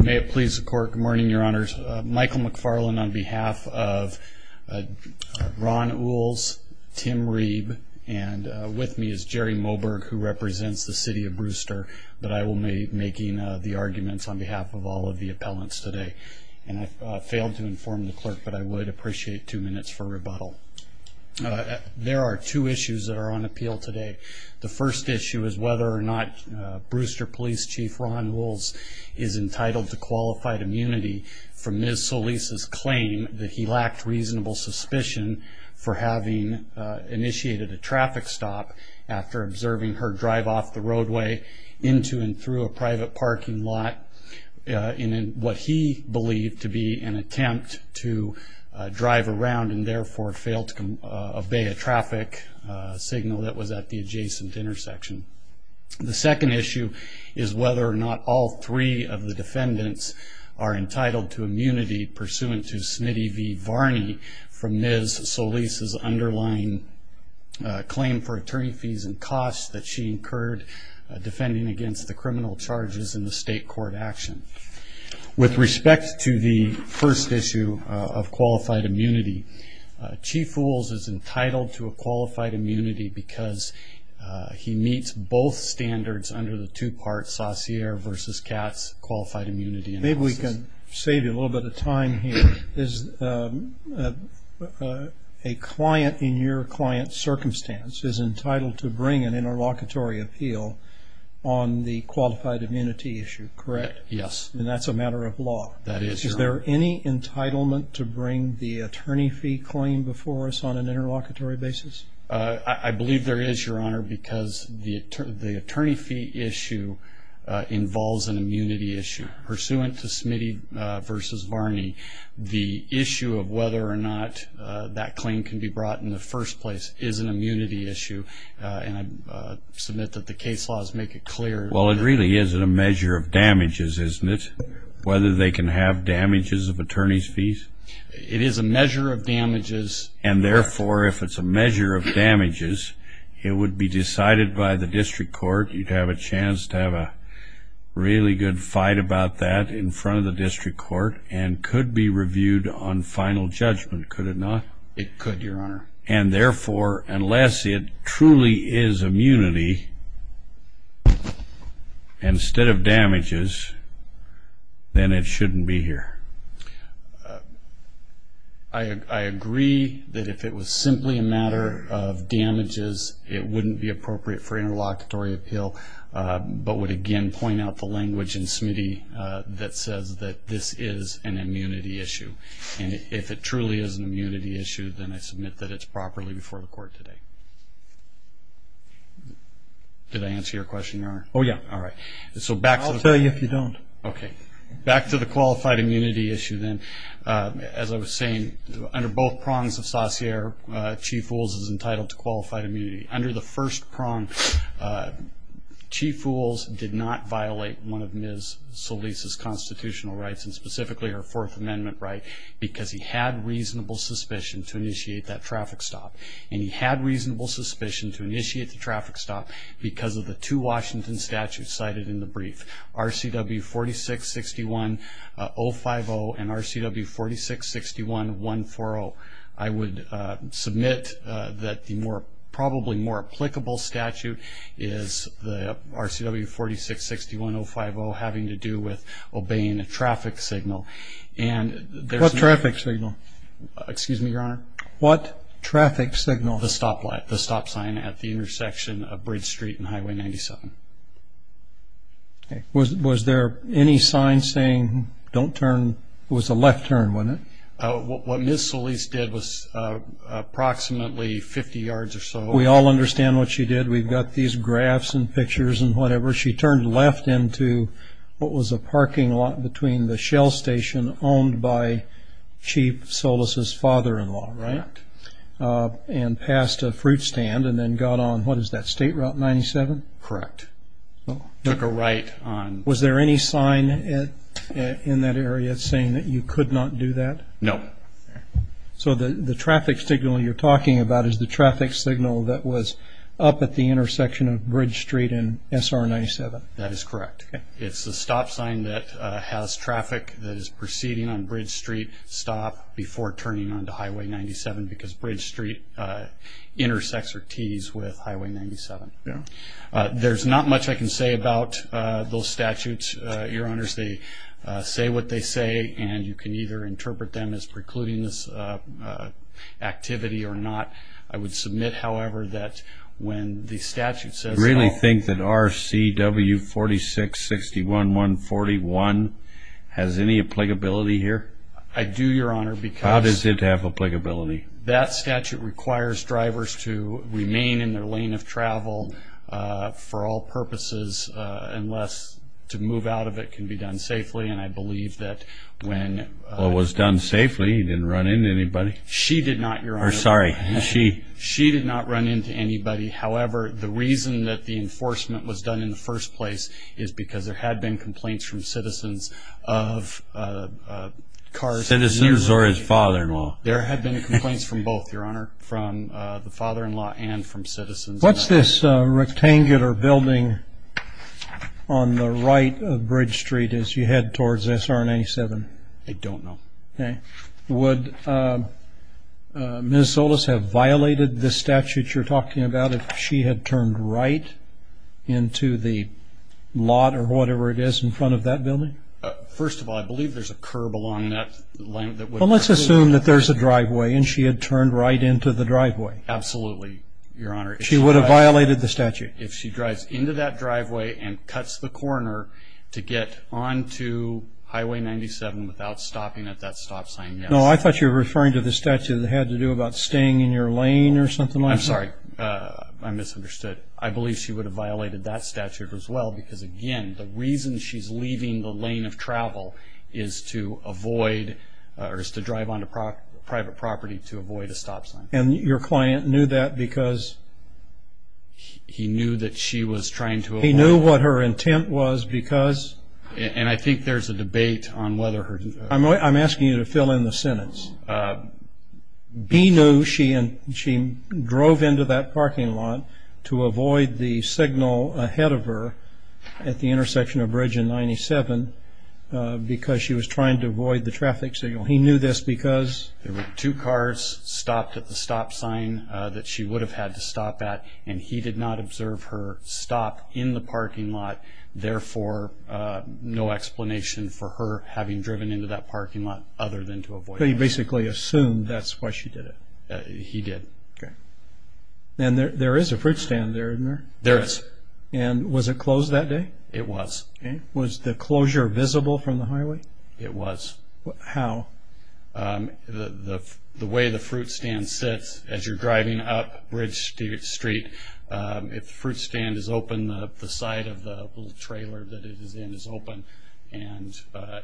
May it please the court. Good morning, your honors. Michael McFarlane on behalf of Ron Oules, Tim Reeb, and with me is Jerry Moberg, who represents the city of Brewster, but I will be making the arguments on behalf of all of the appellants today, and I failed to inform the clerk, but I would appreciate two minutes for rebuttal. There are two issues that are on appeal today. The first issue is whether or not Brewster Police Chief Ron Oules is entitled to qualified immunity from Ms. Solis' claim that he lacked reasonable suspicion for having initiated a traffic stop after observing her drive off the roadway into and through a private parking lot in what he believed to be an attempt to drive around and therefore fail to comply. The second issue is whether or not all three defendants are entitled to immunity pursuant to Smitty v. Varney from Ms. Solis' underlying claim for attorney fees and costs that she incurred defending against the criminal charges in the state court action. With respect to the first issue of qualified immunity, Chief Oules is entitled to a qualified immunity because he meets both standards under the two-part Saussure v. Katz qualified immunity analysis. If I can save you a little bit of time here, a client in your client's circumstance is entitled to bring an interlocutory appeal on the qualified immunity issue, correct? Yes. And that's a matter of law? That is, Your Honor. Is there any entitlement to bring the attorney fee claim before us on an interlocutory basis? I believe there is, Your Honor, because the attorney fee issue involves an immunity issue. Pursuant to Smitty v. Varney, the issue of whether or not that claim can be brought in the first place is an immunity issue, and I submit that the case laws make it clear. Well, it really is a measure of damages, isn't it, whether they can have damages of attorney's fees? It is a measure of damages. And, therefore, if it's a measure of damages, it would be decided by the district court. You'd have a chance to have a really good fight about that in front of the district court and could be reviewed on final judgment, could it not? It could, Your Honor. And, therefore, unless it truly is immunity instead of damages, then it shouldn't be here. I agree that if it was simply a matter of damages, it wouldn't be appropriate for interlocutory appeal, but would again point out the language in Smitty that says that this is an immunity issue. And if it truly is an immunity issue, then I submit that it's properly before the court today. Did I answer your question, Your Honor? Oh, yeah. All right. I'll tell you if you don't. Okay. Back to the qualified immunity issue then. As I was saying, under both prongs of Saussure, Chief Wools is entitled to qualified immunity. Under the first prong, Chief Wools did not violate one of Ms. Solis' constitutional rights, and specifically her Fourth Amendment right, because he had reasonable suspicion to initiate that traffic stop. And he had reasonable suspicion to initiate the traffic stop because of the two Washington statutes cited in the brief. RCW 4661-050 and RCW 4661-140. I would submit that the probably more applicable statute is the RCW 4661-050 having to do with obeying a traffic signal. What traffic signal? Excuse me, Your Honor? What traffic signal? The stop sign at the intersection of Bridge Street and Highway 97. Okay. Was there any sign saying don't turn? It was a left turn, wasn't it? What Ms. Solis did was approximately 50 yards or so. We all understand what she did. We've got these graphs and pictures and whatever. She turned left into what was a parking lot between the Shell Station owned by Chief Solis' father-in-law, right? Correct. And passed a fruit stand and then got on, what is that, State Route 97? Correct. Took a right on... Was there any sign in that area saying that you could not do that? No. So the traffic signal you're talking about is the traffic signal that was up at the intersection of Bridge Street and SR 97? That is correct. Okay. It's the stop sign that has traffic that is proceeding on Bridge Street stop before turning onto Highway 97 because Bridge Street intersects or tees with Highway 97. Yeah. There's not much I can say about those statutes, Your Honors. They say what they say and you can either interpret them as precluding this activity or not. I would submit, however, that when the statute says... Do you really think that RCW 4661-141 has any applicability here? I do, Your Honor, because... How does it have applicability? That statute requires drivers to remain in their lane of travel for all purposes unless to move out of it can be done safely, and I believe that when... Well, it was done safely. It didn't run into anybody. She did not, Your Honor. Sorry, she. She did not run into anybody. However, the reason that the enforcement was done in the first place is because there had been complaints from citizens of cars... Citizens or his father-in-law. There had been complaints from both, Your Honor, from the father-in-law and from citizens. What's this rectangular building on the right of Bridge Street as you head towards SR 97? I don't know. Okay. Would Minnesota have violated the statute you're talking about if she had turned right into the lot or whatever it is in front of that building? First of all, I believe there's a curb along that lane that would... Well, let's assume that there's a driveway and she had turned right into the driveway. Absolutely, Your Honor. She would have violated the statute. If she drives into that driveway and cuts the corner to get onto Highway 97 without stopping at that stop sign, yes. No, I thought you were referring to the statute that had to do about staying in your lane or something like that. I'm sorry. I misunderstood. I believe she would have violated that statute as well because, again, the reason she's leaving the lane of travel is to drive onto private property to avoid a stop sign. And your client knew that because... He knew that she was trying to avoid... He knew what her intent was because... And I think there's a debate on whether... I'm asking you to fill in the sentence. B knew she drove into that parking lot to avoid the signal ahead of her at the intersection of Bridge and 97 because she was trying to avoid the traffic signal. He knew this because... There were two cars stopped at the stop sign that she would have had to stop at, and he did not observe her stop in the parking lot. Therefore, no explanation for her having driven into that parking lot other than to avoid... He basically assumed that's why she did it. He did. Okay. And there is a fruit stand there, isn't there? There is. And was it closed that day? It was. Okay. Was the closure visible from the highway? It was. How? The way the fruit stand sits as you're driving up Bridge Street, if the fruit stand is open, the side of the little trailer that it is in is open, and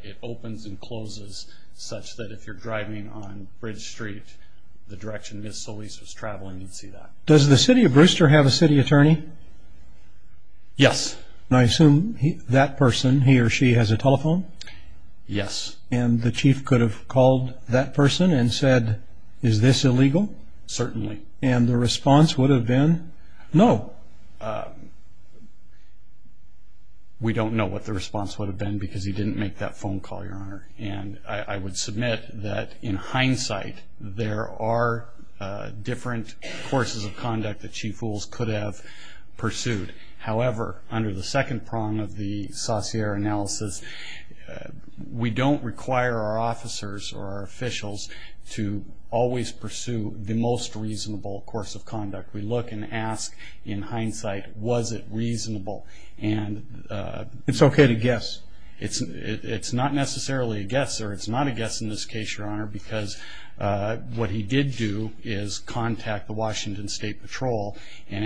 it opens and closes such that if you're driving on Bridge Street, the direction Ms. Solis was traveling, you'd see that. Does the city of Brewster have a city attorney? Yes. And I assume that person, he or she, has a telephone? Yes. And the chief could have called that person and said, is this illegal? Certainly. And the response would have been, no. Well, we don't know what the response would have been because he didn't make that phone call, Your Honor. And I would submit that, in hindsight, there are different courses of conduct that chief fools could have pursued. However, under the second prong of the Saussure analysis, we don't require our officers or our officials to always pursue the most reasonable course of conduct. We look and ask, in hindsight, was it reasonable? It's okay to guess. It's not necessarily a guess, or it's not a guess in this case, Your Honor, because what he did do is contact the Washington State Patrol, and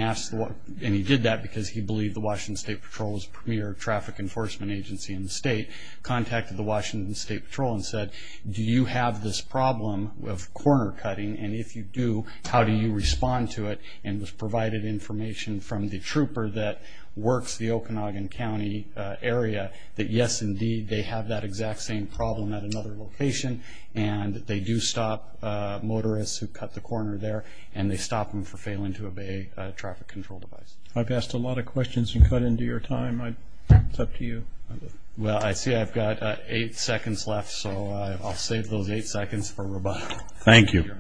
he did that because he believed the Washington State Patrol was the premier traffic enforcement agency in the state, contacted the Washington State Patrol and said, do you have this problem of corner cutting, and if you do, how do you respond to it? And was provided information from the trooper that works the Okanagan County area that, yes, indeed, they have that exact same problem at another location, and they do stop motorists who cut the corner there, and they stop them for failing to obey a traffic control device. I've asked a lot of questions and cut into your time. It's up to you. Well, I see I've got eight seconds left, so I'll save those eight seconds for rebuttal. Thank you.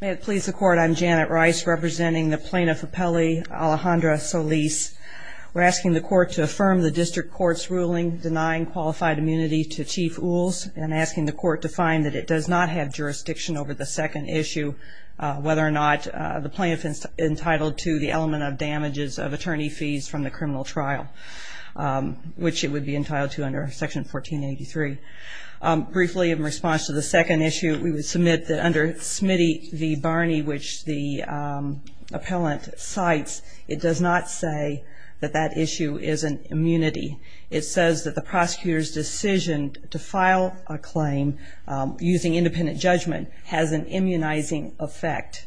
May it please the Court, I'm Janet Rice, representing the Plaintiff Appellee Alejandra Solis. We're asking the Court to affirm the district court's ruling denying qualified immunity to Chief Uhls and asking the Court to find that it does not have jurisdiction over the second issue, whether or not the plaintiff is entitled to the element of damages of attorney fees from the criminal trial. Which it would be entitled to under Section 1483. Briefly, in response to the second issue, we would submit that under Smitty v. Barney, which the appellant cites, it does not say that that issue is an immunity. It says that the prosecutor's decision to file a claim using independent judgment has an immunizing effect,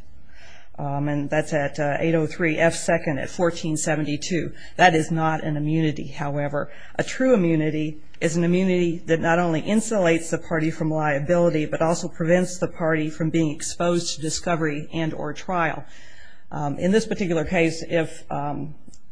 and that's at 803 F. 2nd at 1472. That is not an immunity, however. A true immunity is an immunity that not only insulates the party from liability, but also prevents the party from being exposed to discovery and or trial. In this particular case, if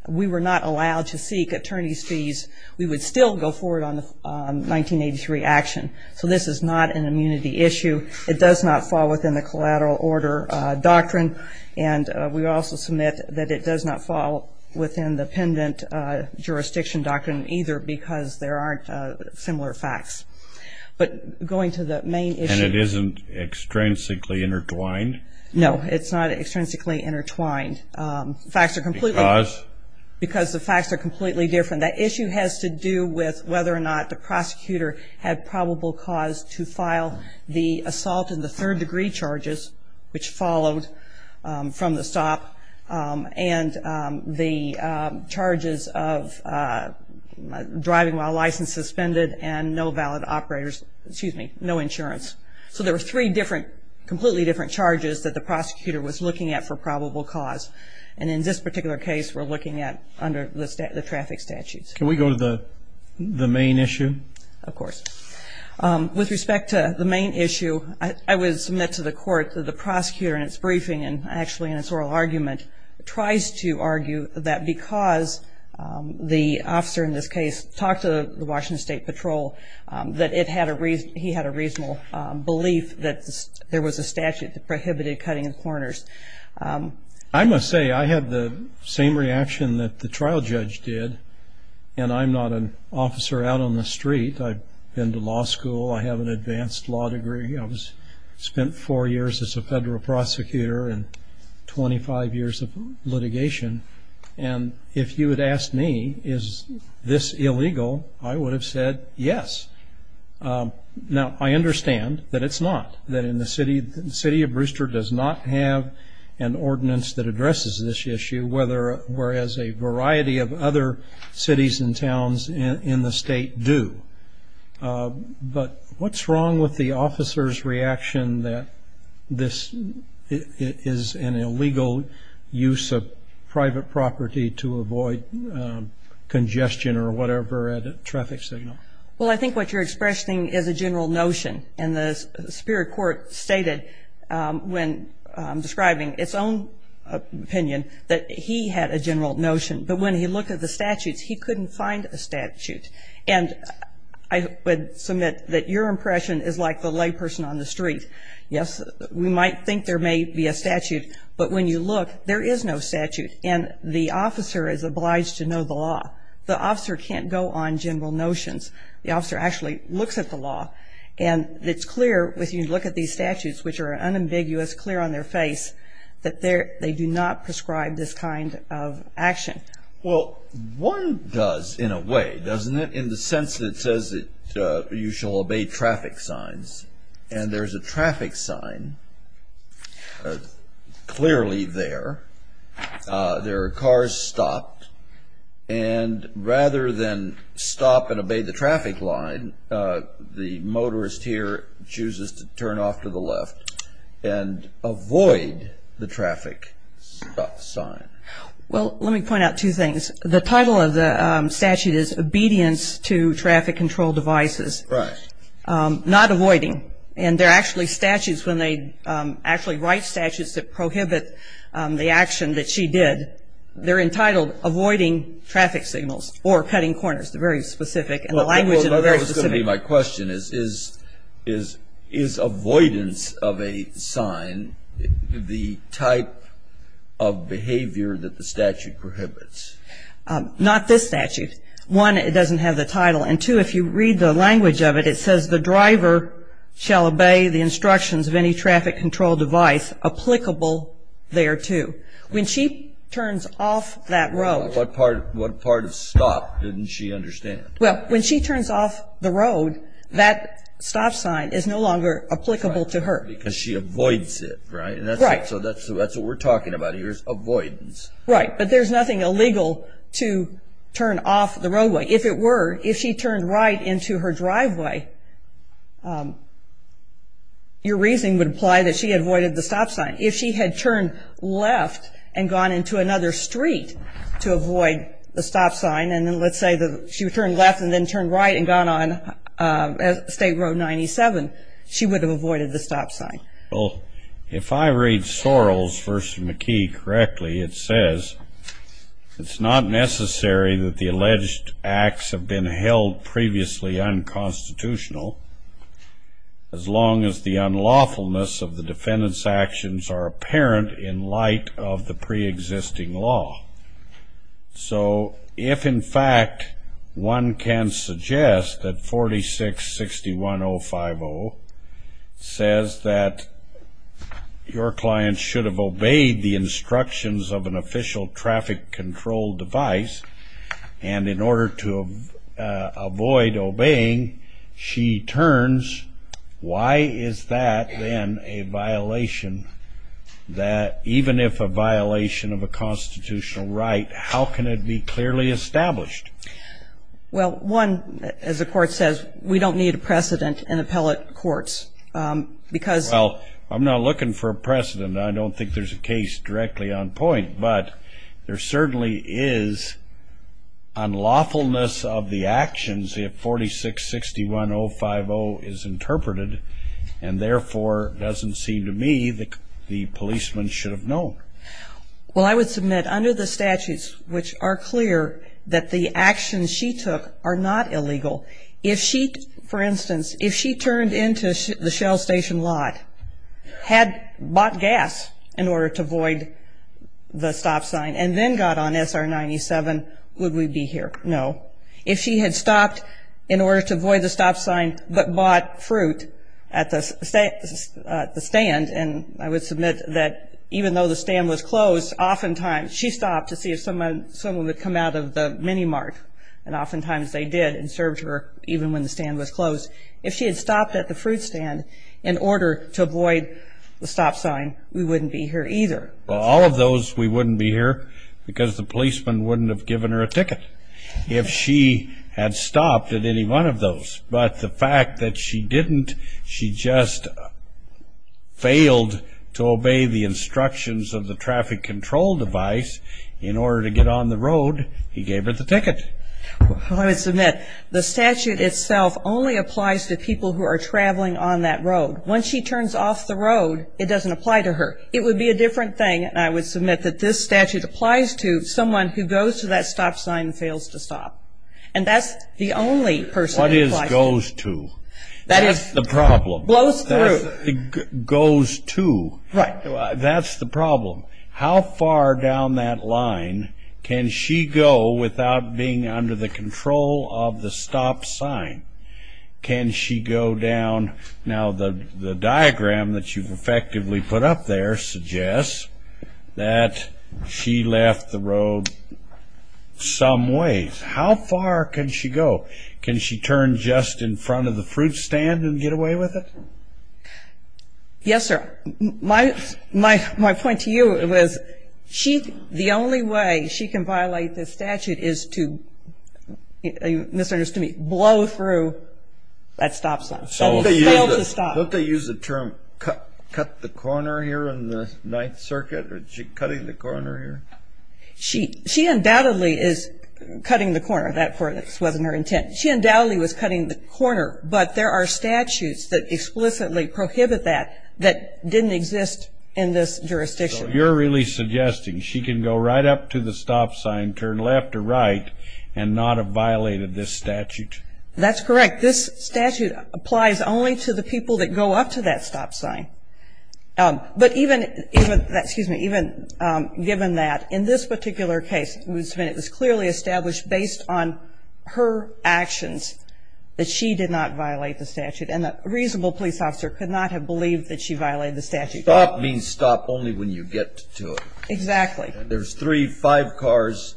we were not allowed to seek attorney's fees, we would still go forward on the 1983 action. So this is not an immunity issue. It does not fall within the collateral order doctrine, and we also submit that it does not fall within the pendant jurisdiction doctrine either because there aren't similar facts. But going to the main issue. And it isn't extrinsically intertwined? No, it's not extrinsically intertwined. Because? Because the facts are completely different. The issue has to do with whether or not the prosecutor had probable cause to file the assault and the third degree charges which followed from the stop and the charges of driving while license suspended and no valid operators, excuse me, no insurance. So there were three completely different charges that the prosecutor was looking at for probable cause. And in this particular case, we're looking at under the traffic statutes. Can we go to the main issue? Of course. With respect to the main issue, I would submit to the court that the prosecutor in its briefing and actually in its oral argument tries to argue that because the officer in this case talked to the Washington State Patrol, that he had a reasonable belief that there was a statute that prohibited cutting of corners. I must say I had the same reaction that the trial judge did, and I'm not an officer out on the street. I've been to law school. I have an advanced law degree. I spent four years as a federal prosecutor and 25 years of litigation. And if you had asked me, is this illegal, I would have said yes. Now, I understand that it's not, that the city of Brewster does not have an ordinance that addresses this issue, whereas a variety of other cities and towns in the state do. But what's wrong with the officer's reaction that this is an illegal use of private property to avoid congestion or whatever at a traffic signal? Well, I think what you're expressing is a general notion, and the superior court stated when describing its own opinion that he had a general notion, but when he looked at the statutes, he couldn't find a statute. And I would submit that your impression is like the layperson on the street. Yes, we might think there may be a statute, but when you look, there is no statute, and the officer is obliged to know the law. The officer can't go on general notions. The officer actually looks at the law, and it's clear when you look at these statutes, which are unambiguous, clear on their face, that they do not prescribe this kind of action. Well, one does in a way, doesn't it, in the sense that it says that you shall obey traffic signs, and there's a traffic sign clearly there. There are cars stopped, and rather than stop and obey the traffic line, the motorist here chooses to turn off to the left and avoid the traffic stop sign. Well, let me point out two things. The title of the statute is obedience to traffic control devices, not avoiding, and there are actually statutes, when they actually write statutes that prohibit the action that she did, they're entitled avoiding traffic signals or cutting corners. They're very specific, and the language is very specific. Well, that was going to be my question. Is avoidance of a sign the type of behavior that the statute prohibits? Not this statute. One, it doesn't have the title. And two, if you read the language of it, it says the driver shall obey the instructions of any traffic control device applicable thereto. When she turns off that road. What part of stop didn't she understand? Well, when she turns off the road, that stop sign is no longer applicable to her. Because she avoids it, right? Right. So that's what we're talking about here is avoidance. Right, but there's nothing illegal to turn off the roadway. If it were, if she turned right into her driveway, your reasoning would apply that she avoided the stop sign. If she had turned left and gone into another street to avoid the stop sign, and then let's say she turned left and then turned right and gone on State Road 97, she would have avoided the stop sign. Well, if I read Sorrells v. McKee correctly, it says, it's not necessary that the alleged acts have been held previously unconstitutional, as long as the unlawfulness of the defendant's actions are apparent in light of the preexisting law. So if, in fact, one can suggest that 46-61050 says that your client should have obeyed the instructions of an official traffic control device, and in order to avoid obeying, she turns, why is that then a violation that, even if a violation of a constitutional right, how can it be clearly established? Well, one, as the Court says, we don't need a precedent in appellate courts, because Well, I'm not looking for a precedent. I don't think there's a case directly on point. But there certainly is unlawfulness of the actions if 46-61050 is interpreted, and therefore it doesn't seem to me that the policeman should have known. Well, I would submit under the statutes, which are clear, that the actions she took are not illegal. If she, for instance, if she turned into the Shell Station lot, had bought gas in order to avoid the stop sign, and then got on SR 97, would we be here? No. If she had stopped in order to avoid the stop sign, but bought fruit at the stand, and I would submit that even though the stand was closed, oftentimes, she stopped to see if someone would come out of the Mini Mart, and oftentimes they did and served her even when the stand was closed. If she had stopped at the fruit stand in order to avoid the stop sign, we wouldn't be here either. Well, all of those, we wouldn't be here, because the policeman wouldn't have given her a ticket. If she had stopped at any one of those, but the fact that she didn't, she just failed to obey the instructions of the traffic control device in order to get on the road, he gave her the ticket. Well, I would submit the statute itself only applies to people who are traveling on that road. Once she turns off the road, it doesn't apply to her. It would be a different thing, and I would submit that this statute applies to someone who goes to that stop sign and fails to stop, and that's the only person who applies to it. What is goes to? That is the problem. Blows through. Goes to. Right. That's the problem. How far down that line can she go without being under the control of the stop sign? Can she go down? Now, the diagram that you've effectively put up there suggests that she left the road some ways. How far can she go? Can she turn just in front of the fruit stand and get away with it? Yes, sir. My point to you was the only way she can violate this statute is to, you misunderstood me, blow through that stop sign and fail to stop. Don't they use the term cut the corner here in the Ninth Circuit? Is she cutting the corner here? She undoubtedly is cutting the corner. That wasn't her intent. She undoubtedly was cutting the corner, but there are statutes that explicitly prohibit that that didn't exist in this jurisdiction. So you're really suggesting she can go right up to the stop sign, turn left or right, and not have violated this statute? That's correct. This statute applies only to the people that go up to that stop sign. But even given that, in this particular case, it was clearly established based on her actions that she did not violate the statute and that a reasonable police officer could not have believed that she violated the statute. Stop means stop only when you get to it. Exactly. When there's three, five cars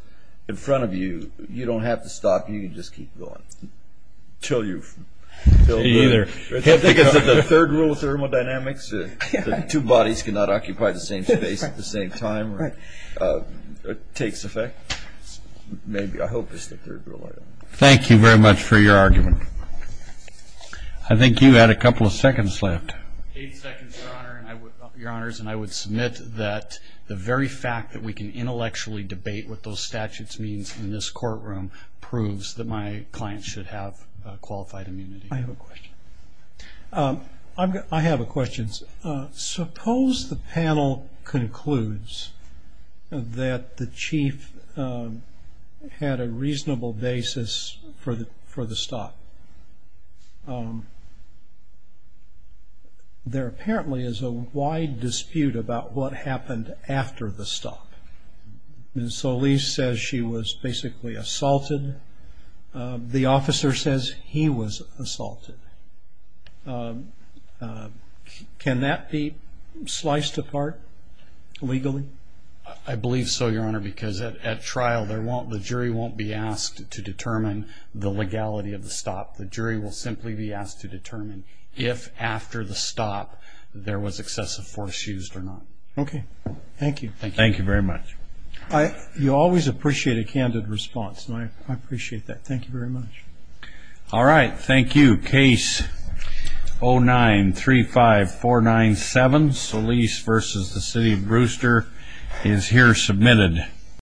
in front of you, you don't have to stop. You can just keep going until you've filled the room. Either. I think it's the third rule of thermodynamics that two bodies cannot occupy the same space at the same time. Right. It takes effect. Maybe. I hope it's the third rule. Thank you very much for your argument. I think you had a couple of seconds left. Eight seconds, Your Honor. Your Honors, and I would submit that the very fact that we can intellectually debate what those statutes mean in this courtroom proves that my client should have qualified immunity. I have a question. I have a question. Suppose the panel concludes that the chief had a reasonable basis for the stop. There apparently is a wide dispute about what happened after the stop. Ms. Solis says she was basically assaulted. The officer says he was assaulted. Can that be sliced apart legally? I believe so, Your Honor, because at trial the jury won't be asked to determine the legality of the stop. The jury will simply be asked to determine if after the stop there was excessive force used or not. Okay. Thank you. Thank you very much. You always appreciate a candid response, and I appreciate that. Thank you very much. All right. Thank you. Case 09-35497, Solis v. City of Brewster is here submitted.